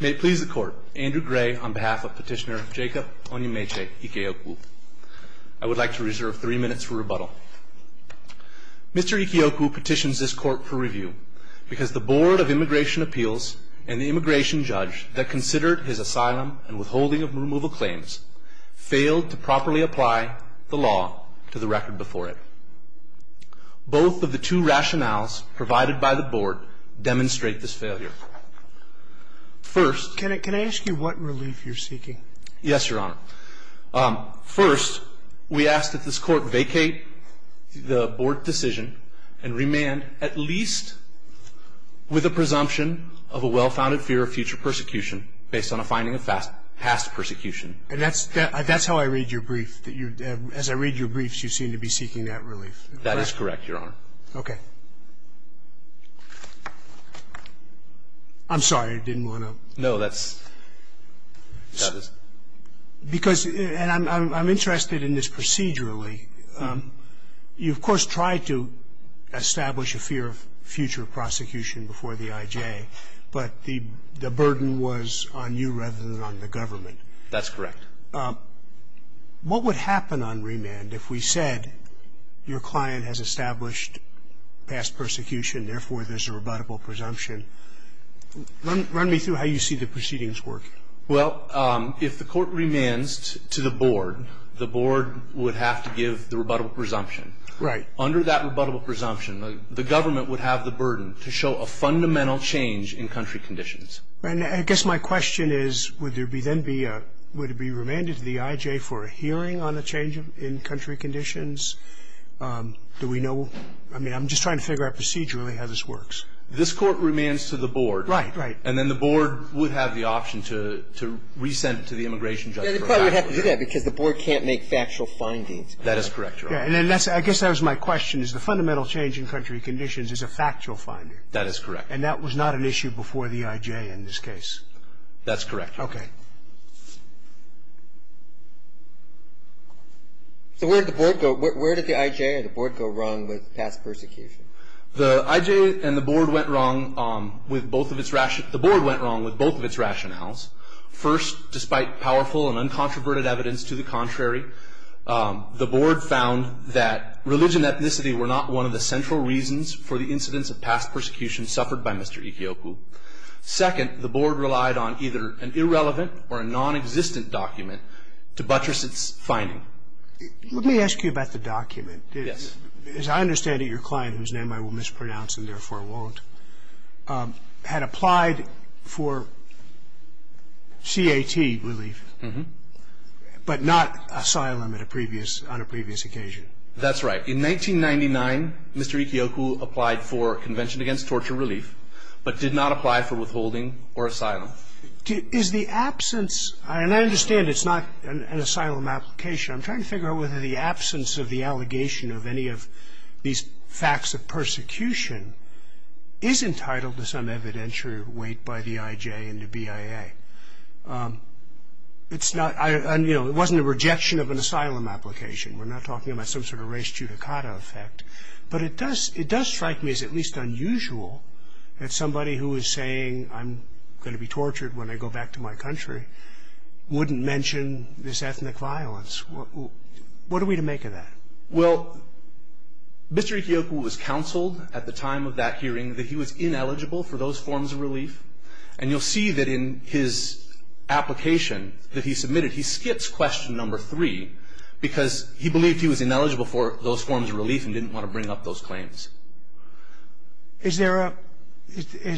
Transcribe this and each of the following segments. May it please the Court, Andrew Gray on behalf of Petitioner Jacob Onymaechi Ikeokwu. I would like to reserve three minutes for rebuttal. Mr. Ikeokwu petitions this Court for review because the Board of Immigration Appeals and the immigration judge that considered his asylum and withholding of removal claims failed to properly apply the law to the record before it. Both of the two rationales provided by the Board demonstrate this failure. First Can I ask you what relief you're seeking? Yes, Your Honor. First, we ask that this Court vacate the Board decision and remand at least with a presumption of a well-founded fear of future persecution based on a finding of past persecution. And that's how I read your brief. As I read your briefs, you seem to be seeking that relief. That is correct, Your Honor. Okay. I'm sorry. I didn't want to ---- No, that's ---- Because, and I'm interested in this procedurally. You, of course, tried to establish a fear of future prosecution before the IJ, but the burden was on you rather than on the government. That's correct. What would happen on remand if we said your client has established past persecution, therefore there's a rebuttable presumption? Run me through how you see the proceedings work. Well, if the Court remands to the Board, the Board would have to give the rebuttable presumption. Right. Under that rebuttable presumption, the government would have the burden to show a fundamental change in country conditions. Right. And I guess my question is, would there be then be a, would it be remanded to the IJ for a hearing on a change in country conditions? Do we know, I mean, I'm just trying to figure out procedurally how this works. This Court remands to the Board. Right. Right. And then the Board would have the option to resent it to the immigration judge. Yeah, they probably would have to do that because the Board can't make factual findings. That is correct, Your Honor. Yeah, and then that's, I guess that was my question, is the fundamental change in country conditions is a factual finding. That is correct. And that was not an issue before the IJ in this case. That's correct. Okay. So where did the Board go, where did the IJ or the Board go wrong with past persecution? The IJ and the Board went wrong with both of its, the Board went wrong with both of its rationales. First, despite powerful and uncontroverted evidence to the contrary, the Board found that religion and ethnicity were not one of the central reasons for the incidence of past persecution suffered by Mr. Ikeoku. Second, the Board relied on either an irrelevant or a nonexistent document to buttress its finding. Let me ask you about the document. Yes. As I understand it, your client, whose name I will mispronounce and therefore won't, had applied for CAT relief, but not asylum at a previous, on a previous occasion. That's right. In 1999, Mr. Ikeoku applied for Convention Against Torture Relief, but did not apply for withholding or asylum. Is the absence, and I understand it's not an asylum application. I'm trying to figure out whether the absence of the allegation of any of these facts of persecution is entitled to some evidentiary weight by the IJ and the BIA. It's not, you know, it wasn't a rejection of an asylum application. We're not talking about some sort of race judicata effect. But it does, it does strike me as at least unusual that somebody who is saying I'm going to be tortured when I go back to my country wouldn't mention this ethnic violence. What are we to make of that? Well, Mr. Ikeoku was counseled at the time of that hearing that he was ineligible for those forms of relief. And you'll see that in his application that he submitted, he skips question number three because he believed he was ineligible for those forms of relief and didn't want to bring up those claims. Is there a,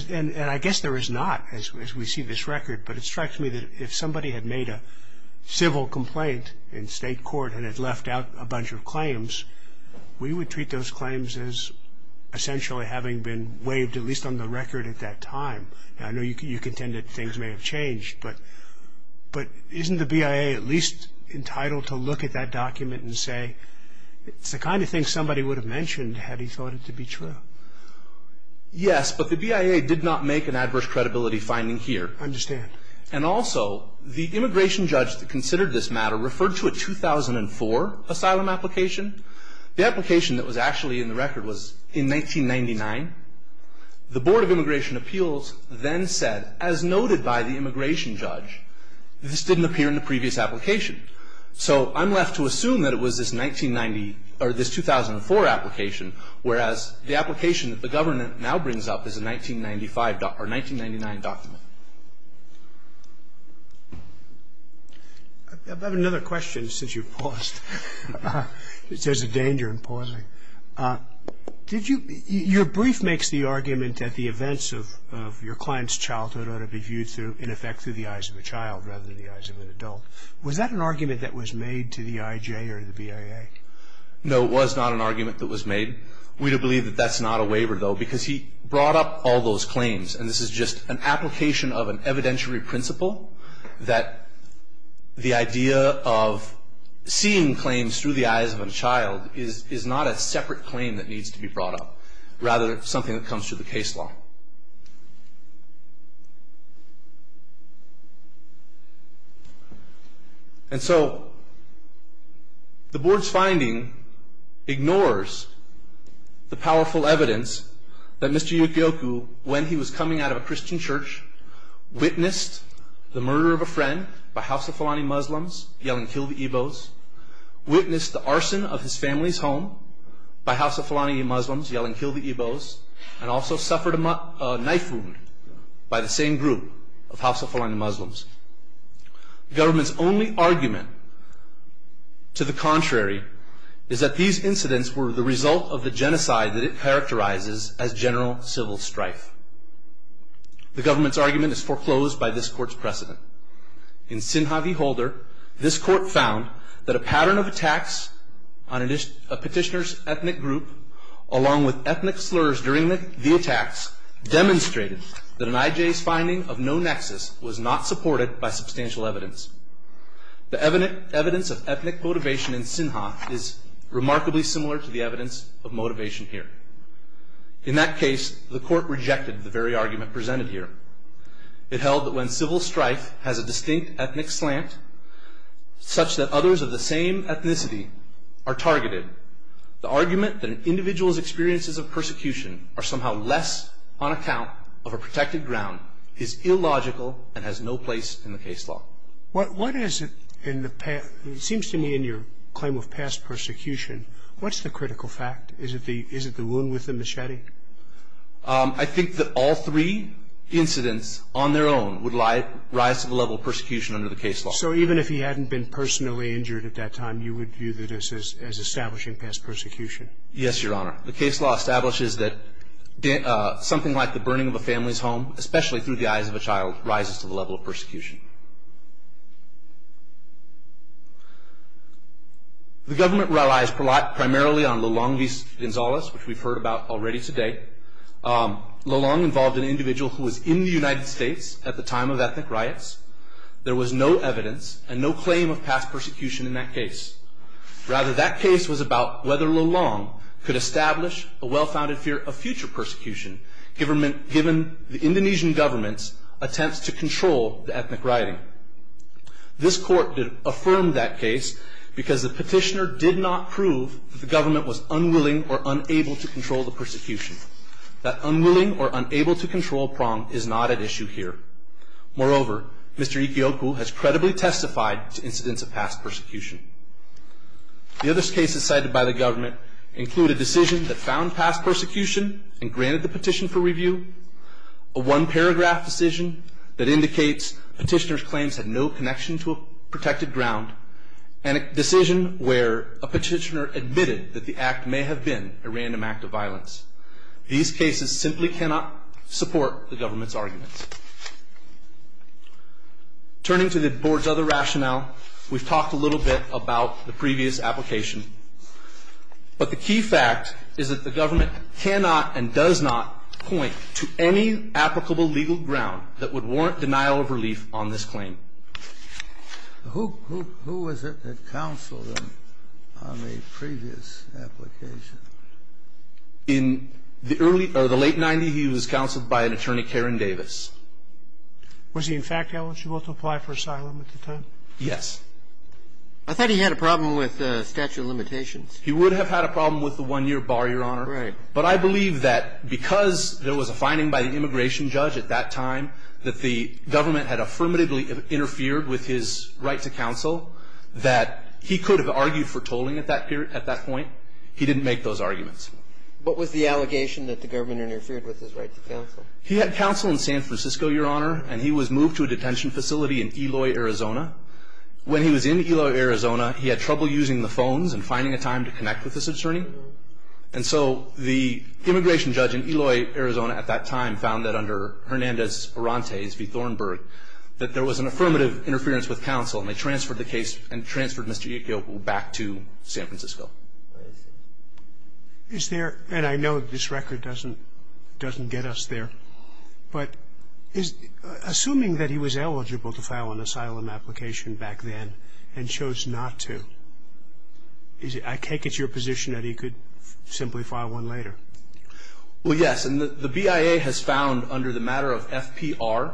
and I guess there is not as we see this record. But it strikes me that if somebody had made a civil complaint in state court and had left out a bunch of claims, we would treat those claims as essentially having been waived at least on the record at that time. I know you contend that things may have changed. But isn't the BIA at least entitled to look at that document and say it's the kind of thing somebody would have mentioned had he thought it to be true? Yes, but the BIA did not make an adverse credibility finding here. I understand. And also, the immigration judge that considered this matter referred to a 2004 asylum application. The application that was actually in the record was in 1999. The Board of Immigration Appeals then said, as noted by the immigration judge, this didn't appear in the previous application. So I'm left to assume that it was this 1990, or this 2004 application, whereas the application that the government now brings up is a 1995, or 1999 document. I have another question since you paused. There's a danger in pausing. Your brief makes the argument that the events of your client's childhood ought to be viewed in effect through the eyes of a child rather than the eyes of an adult. Was that an argument that was made to the IJ or the BIA? No, it was not an argument that was made. We do believe that that's not a waiver, though, because he brought up all those claims. And this is just an application of an evidentiary principle that the idea of seeing claims through the eyes of a child is not a separate claim that needs to be brought up, rather something that comes through the case law. And so the Board's finding ignores the powerful evidence that Mr. Yukioku, when he was coming out of a Christian church, witnessed the murder of a friend by Hafsafalani Muslims yelling, kill the Igbos, witnessed the arson of his family's home by Hafsafalani Muslims yelling, kill the Igbos, and also suffered a knife wound by the same group of Hafsafalani Muslims. The government's only argument to the contrary is that these incidents were the result of the genocide that it characterizes as general civil strife. The government's argument is foreclosed by this court's precedent. In Sinha v. Holder, this court found that a pattern of attacks on a petitioner's ethnic group, along with ethnic slurs during the attacks, demonstrated that an IJ's finding of no nexus was not supported by substantial evidence. The evidence of ethnic motivation in Sinha is remarkably similar to the evidence of motivation here. In that case, the court rejected the very argument presented here. It held that when civil strife has a distinct ethnic slant, such that others of the same ethnicity are targeted, the argument that an individual's experiences of persecution are somehow less on account of a protected ground is illogical and has no place in the case law. It seems to me in your claim of past persecution, what's the critical fact? Is it the wound with the machete? I think that all three incidents on their own would rise to the level of persecution under the case law. So even if he hadn't been personally injured at that time, you would view this as establishing past persecution? Yes, Your Honor. The case law establishes that something like the burning of a family's home, especially through the eyes of a child, rises to the level of persecution. The government relies primarily on Lulong V. Gonzalez, which we've heard about already today. Lulong involved an individual who was in the United States at the time of ethnic riots. There was no evidence and no claim of past persecution in that case. Rather, that case was about whether Lulong could establish a well-founded fear of future persecution, given the Indonesian government's attempts to control the ethnic riots. This Court affirmed that case because the petitioner did not prove that the government was unwilling or unable to control the persecution. That unwilling or unable to control prong is not at issue here. Moreover, Mr. Ikeoku has credibly testified to incidents of past persecution. The other cases cited by the government include a decision that found past persecution and granted the petition for review, a one-paragraph decision that indicates petitioner's claims had no connection to a protected ground, and a decision where a petitioner admitted that the act may have been a random act of violence. These cases simply cannot support the government's arguments. Turning to the Board's other rationale, we've talked a little bit about the previous application, but the key fact is that the government cannot and does not point to any applicable legal ground that would warrant denial of relief on this claim. Who was it that counseled him on the previous application? In the early or the late 90s, he was counseled by an attorney, Karen Davis. Was he in fact eligible to apply for asylum at the time? Yes. I thought he had a problem with statute of limitations. He would have had a problem with the one-year bar, Your Honor. Right. But I believe that because there was a finding by the immigration judge at that time that the government had affirmatively interfered with his right to counsel, that he could have argued for tolling at that point. He didn't make those arguments. What was the allegation that the government interfered with his right to counsel? He had counsel in San Francisco, Your Honor, and he was moved to a detention facility in Eloy, Arizona. When he was in Eloy, Arizona, he had trouble using the phones and finding a time to connect with this attorney. And so the immigration judge in Eloy, Arizona, at that time, found that under Hernandez-Orantes v. Thornburg, that there was an affirmative interference with counsel, and they transferred the case and transferred Mr. Itko back to San Francisco. Is there, and I know this record doesn't get us there, but assuming that he was eligible to file an asylum application back then and chose not to, I take it's your position that he could simply file one later? Well, yes. And the BIA has found under the matter of FPR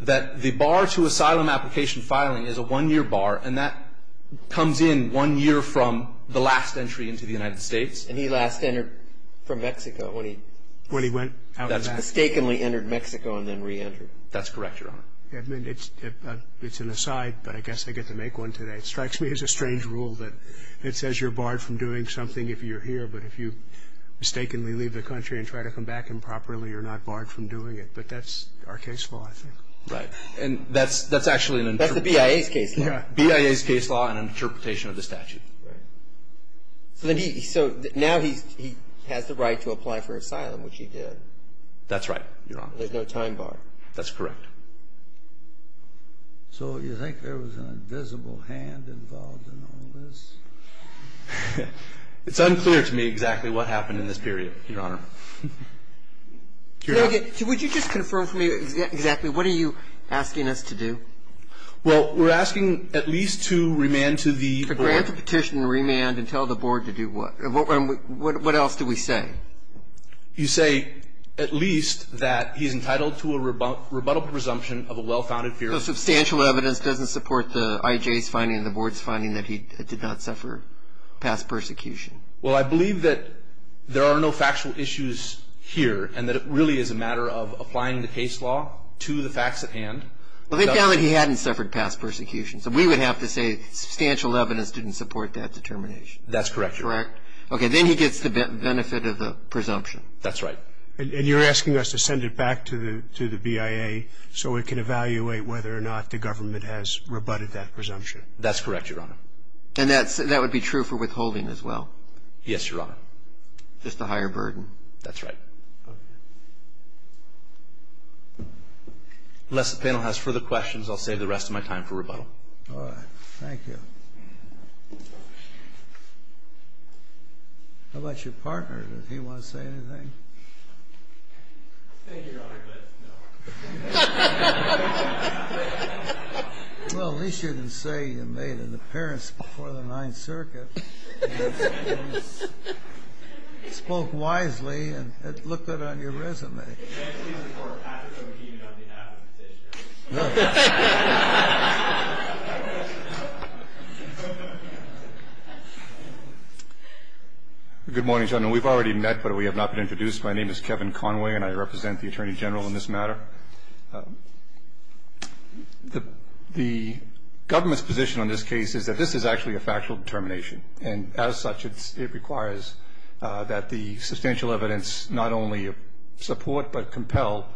that the bar to asylum application filing is a one-year bar, and that comes in one year from the last entry into the United States. And he last entered from Mexico when he mistakenly entered Mexico and then reentered. That's correct, Your Honor. It's an aside, but I guess I get to make one today. It strikes me as a strange rule that it says you're barred from doing something if you're here, but if you mistakenly leave the country and try to come back improperly, you're not barred from doing it. But that's our case law, I think. Right. And that's actually an interpretation. That's the BIA's case law. BIA's case law and an interpretation of the statute. Right. So now he has the right to apply for asylum, which he did. That's right, Your Honor. There's no time bar. That's correct. So you think there was an invisible hand involved in all this? It's unclear to me exactly what happened in this period, Your Honor. Would you just confirm for me exactly what are you asking us to do? Well, we're asking at least to remand to the board. To write the petition, remand, and tell the board to do what? What else do we say? You say at least that he's entitled to a rebuttable presumption of a well-founded fear. Substantial evidence doesn't support the IJ's finding and the board's finding that he did not suffer past persecution. Well, I believe that there are no factual issues here and that it really is a matter of applying the case law to the facts at hand. Well, they found that he hadn't suffered past persecution, so we would have to say substantial evidence didn't support that determination. That's correct, Your Honor. Correct? Okay, then he gets the benefit of the presumption. That's right. And you're asking us to send it back to the BIA so we can evaluate whether or not the government has rebutted that presumption. That's correct, Your Honor. And that would be true for withholding as well? Yes, Your Honor. Just the higher burden. That's right. Unless the panel has further questions, I'll save the rest of my time for rebuttal. All right. Thank you. How about your partner? Does he want to say anything? Thank you, Your Honor, but no. Well, at least you didn't say you made an appearance before the Ninth Circuit. You spoke wisely and looked good on your resume. Can I please report Patrick O'Keefe on behalf of the petitioner? No. Good morning, gentlemen. We've already met, but we have not been introduced. My name is Kevin Conway, and I represent the Attorney General in this matter. The government's position on this case is that this is actually a factual determination, and as such, it requires that the substantial evidence not only support but compel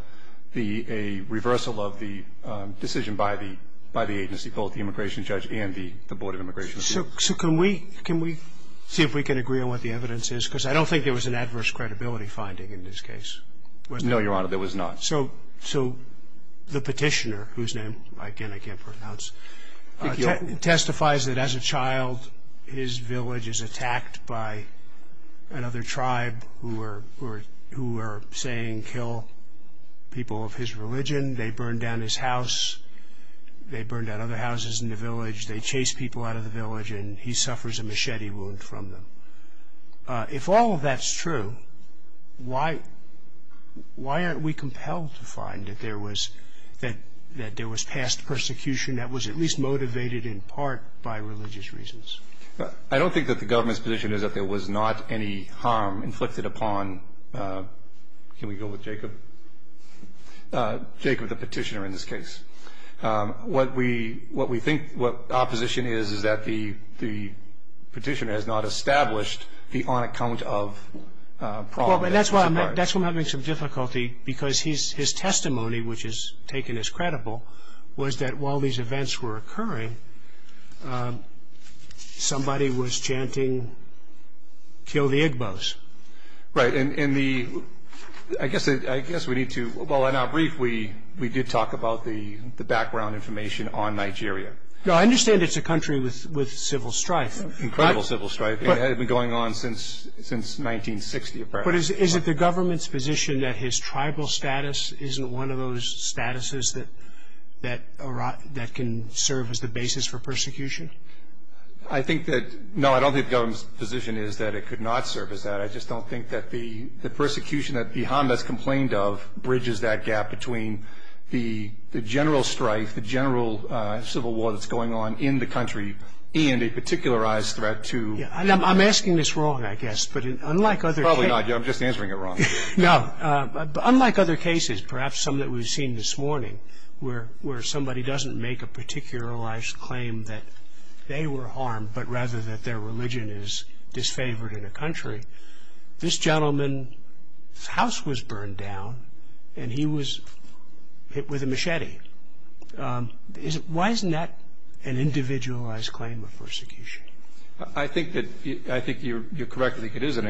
a reversal of the decision by the agency, both the immigration judge and the Board of Immigration. So can we see if we can agree on what the evidence is? Because I don't think there was an adverse credibility finding in this case, was there? No, Your Honor, there was not. So the petitioner, whose name, again, I can't pronounce, testifies that as a child his village is attacked by another tribe who are saying kill people of his religion. They burn down his house. They burn down other houses in the village. They chase people out of the village, and he suffers a machete wound from them. If all of that's true, why aren't we compelled to find that there was past persecution that was at least motivated in part by religious reasons? I don't think that the government's position is that there was not any harm inflicted upon Can we go with Jacob? Jacob, the petitioner in this case. What we think opposition is is that the petitioner has not established the on-account-of problem. That's why I'm having some difficulty because his testimony, which is taken as credible, was that while these events were occurring, somebody was chanting kill the Igbos. Right. I guess we need to – well, in our brief, we did talk about the background information on Nigeria. No, I understand it's a country with civil strife. Incredible civil strife. It had been going on since 1960, apparently. But is it the government's position that his tribal status isn't one of those statuses that can serve as the basis for persecution? I think that – no, I don't think the government's position is that it could not serve as that. I just don't think that the persecution that the Hondas complained of bridges that gap between the general strife, the general civil war that's going on in the country, and a particularized threat to – I'm asking this wrong, I guess. But unlike other – Probably not. I'm just answering it wrong. No. Unlike other cases, perhaps some that we've seen this morning, where somebody doesn't make a particularized claim that they were harmed, but rather that their religion is disfavored in a country. This gentleman's house was burned down, and he was hit with a machete. Why isn't that an individualized claim of persecution? I think you're correct that it is an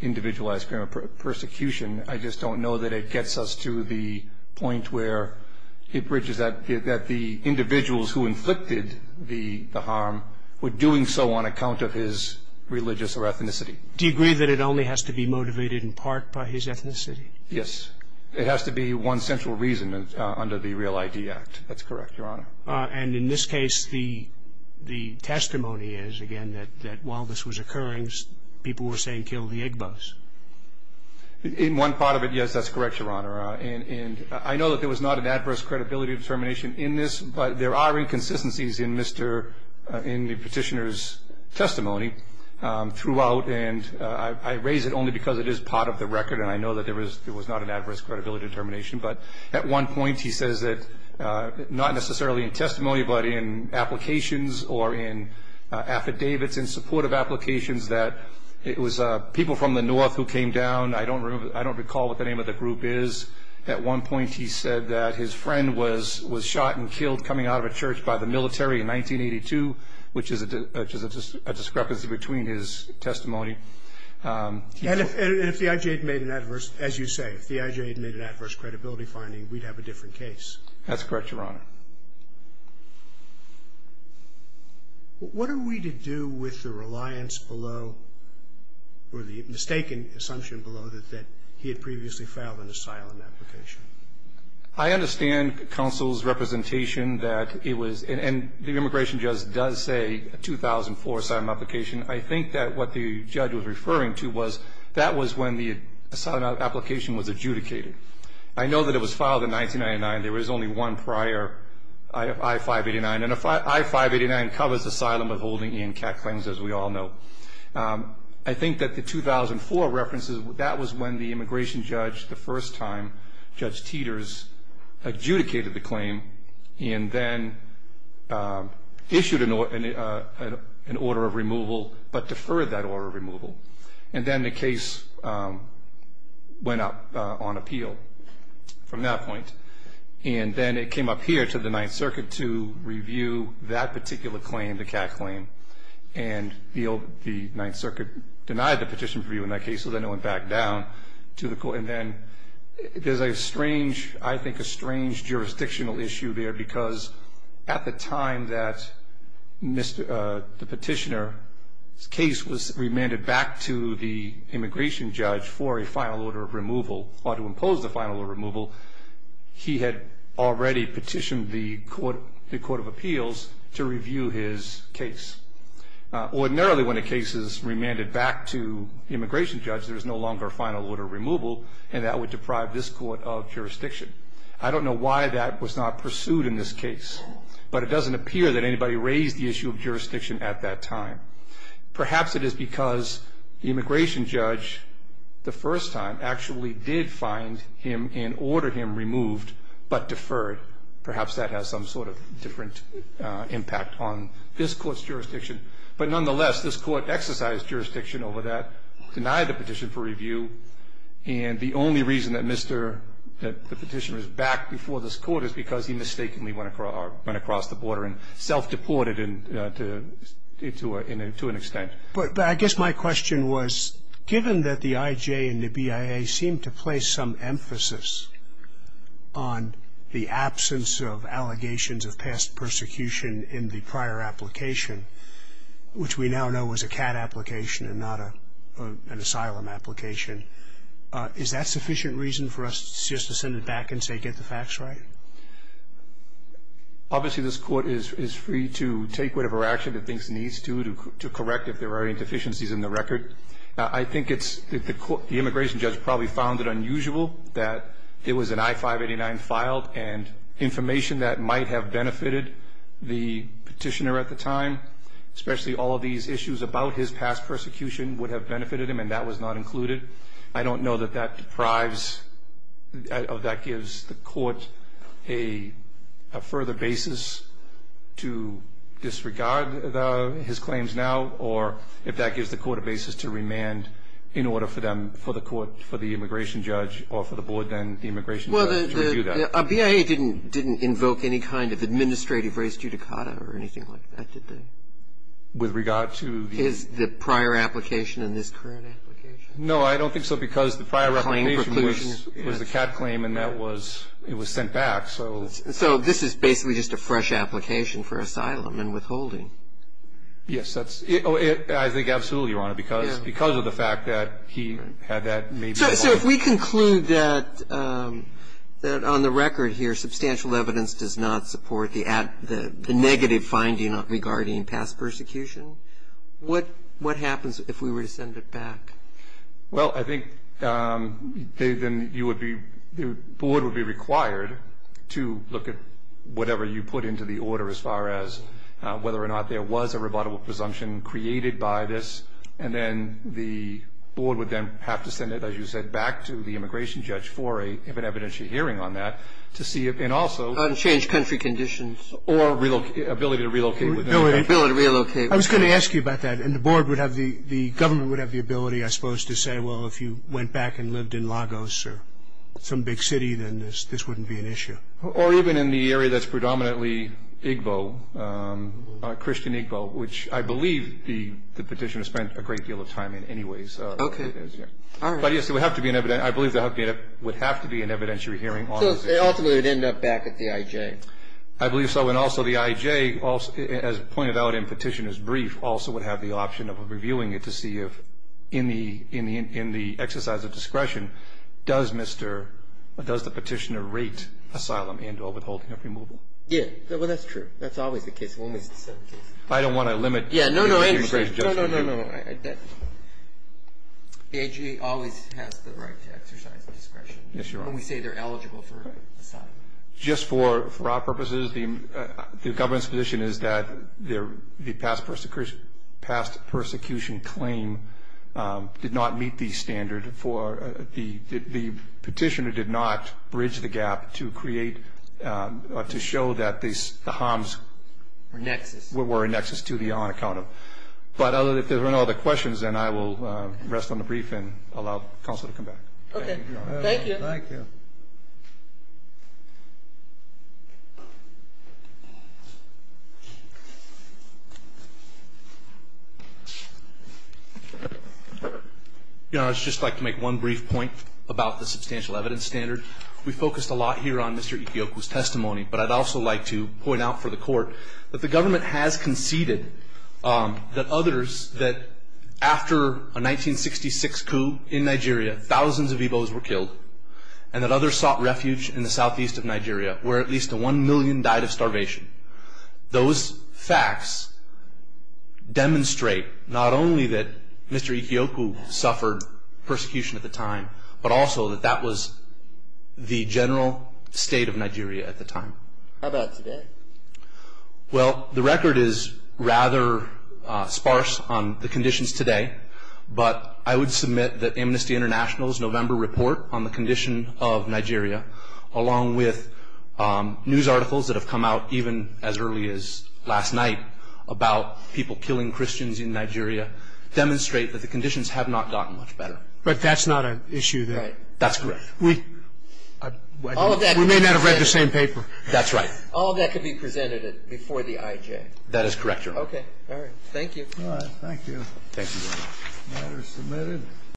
individualized claim of persecution. I just don't know that it gets us to the point where it bridges that – with doing so on account of his religious or ethnicity. Do you agree that it only has to be motivated in part by his ethnicity? Yes. It has to be one central reason under the Real ID Act. That's correct, Your Honor. And in this case, the testimony is, again, that while this was occurring, people were saying kill the Igbos. In one part of it, yes, that's correct, Your Honor. And I know that there was not an adverse credibility determination in this, but there are inconsistencies in the petitioner's testimony throughout, and I raise it only because it is part of the record, and I know that there was not an adverse credibility determination. But at one point he says that, not necessarily in testimony, but in applications or in affidavits in support of applications, that it was people from the north who came down. I don't recall what the name of the group is. At one point he said that his friend was shot and killed coming out of a church by the military in 1982, which is a discrepancy between his testimony. And if the IJ had made an adverse, as you say, if the IJ had made an adverse credibility finding, we'd have a different case. That's correct, Your Honor. All right. What are we to do with the reliance below, or the mistaken assumption below, that he had previously filed an asylum application? I understand counsel's representation that it was, and the immigration judge does say 2004 asylum application. I think that what the judge was referring to was that was when the asylum application was adjudicated. I know that it was filed in 1999. There was only one prior, I-589. And I-589 covers asylum of holding and cat claims, as we all know. I think that the 2004 references, that was when the immigration judge, the first time, Judge Teeters adjudicated the claim and then issued an order of removal, but deferred that order of removal. And then the case went up on appeal from that point. And then it came up here to the Ninth Circuit to review that particular claim, the cat claim. And the Ninth Circuit denied the petition for review in that case, so then it went back down to the court. And then there's a strange, I think a strange jurisdictional issue there, because at the time that the petitioner's case was remanded back to the immigration judge for a final order of removal, or to impose the final order of removal, he had already petitioned the court of appeals to review his case. Ordinarily, when a case is remanded back to the immigration judge, there is no longer a final order of removal, and that would deprive this court of jurisdiction. I don't know why that was not pursued in this case, but it doesn't appear that anybody raised the issue of jurisdiction at that time. Perhaps it is because the immigration judge, the first time, actually did find him and order him removed, but deferred. Perhaps that has some sort of different impact on this court's jurisdiction. But nonetheless, this court exercised jurisdiction over that, denied the petition for review, and the only reason that the petitioner is back before this court is because he mistakenly went across the border and self-deported to an extent. But I guess my question was, given that the IJ and the BIA seem to place some emphasis on the absence of allegations of past persecution in the prior application, which we now know was a CAT application and not an asylum application, is that sufficient reason for us just to send it back and say, get the facts right? Obviously, this court is free to take whatever action it thinks it needs to, to correct if there are any deficiencies in the record. I think the immigration judge probably found it unusual that it was an I-589 file and information that might have benefited the petitioner at the time, especially all of these issues about his past persecution would have benefited him, and that was not included. I don't know that that deprives, that gives the court a further basis to disregard his claims now, or if that gives the court a basis to remand in order for them, for the court, for the immigration judge, or for the board then, the immigration judge, to review that. So a BIA didn't invoke any kind of administrative res judicata or anything like that, did they? With regard to the Is the prior application and this current application? No, I don't think so, because the prior application was Claim of preclusion Was a CAT claim and that was, it was sent back, so So this is basically just a fresh application for asylum and withholding. Yes, that's, I think absolutely, Your Honor, because of the fact that he had that So if we conclude that on the record here substantial evidence does not support the negative finding regarding past persecution, what happens if we were to send it back? Well, I think then you would be, the board would be required to look at whatever you put into the order as far as whether or not there was a rebuttable presumption created by this, and then the board would then have to send it, as you said, back to the immigration judge for an evidentiary hearing on that to see if, and also Unchanged country conditions Or ability to relocate Ability to relocate I was going to ask you about that, and the board would have, the government would have the ability, I suppose, to say, well, if you went back and lived in Lagos or some big city, then this wouldn't be an issue. Or even in the area that's predominantly Igbo, Christian Igbo, which I believe the petitioner spent a great deal of time in anyways. Okay. But yes, it would have to be an evidentiary hearing. So ultimately it would end up back at the IJ. I believe so, and also the IJ, as pointed out in Petitioner's Brief, also would have the option of reviewing it to see if, in the exercise of discretion, does the petitioner rate asylum and or withholding of removal? Yeah. Well, that's true. That's always the case. I don't want to limit the immigration judge. No, no, no. The IJ always has the right to exercise discretion. Yes, Your Honor. When we say they're eligible for asylum. Just for our purposes, the government's position is that the past persecution claim did not meet the standard. The petitioner did not bridge the gap to show that the harms were a nexus to the on account of. But if there are no other questions, then I will rest on the brief and allow counsel to come back. Okay. Thank you. Thank you. Your Honor, I would just like to make one brief point about the substantial evidence standard. We focused a lot here on Mr. Ikeokwu's testimony, but I'd also like to point out for the Court that the government has conceded that others, that after a 1966 coup in Nigeria, thousands of Igbos were killed and that others sought refuge in the southeast of Nigeria where at least one million died of starvation. Those facts demonstrate not only that Mr. Ikeokwu suffered persecution at the time, but also that that was the general state of Nigeria at the time. How about today? Well, the record is rather sparse on the conditions today, but I would submit that Amnesty International's November report on the condition of Nigeria, along with news articles that have come out even as early as last night about people killing Christians in Nigeria, demonstrate that the conditions have not gotten much better. But that's not an issue that we may not have read the same paper. That's right. All of that could be presented before the IJ. That is correct, Your Honor. Okay. Thank you. All right, thank you. Thank you, Your Honor. The matter is submitted.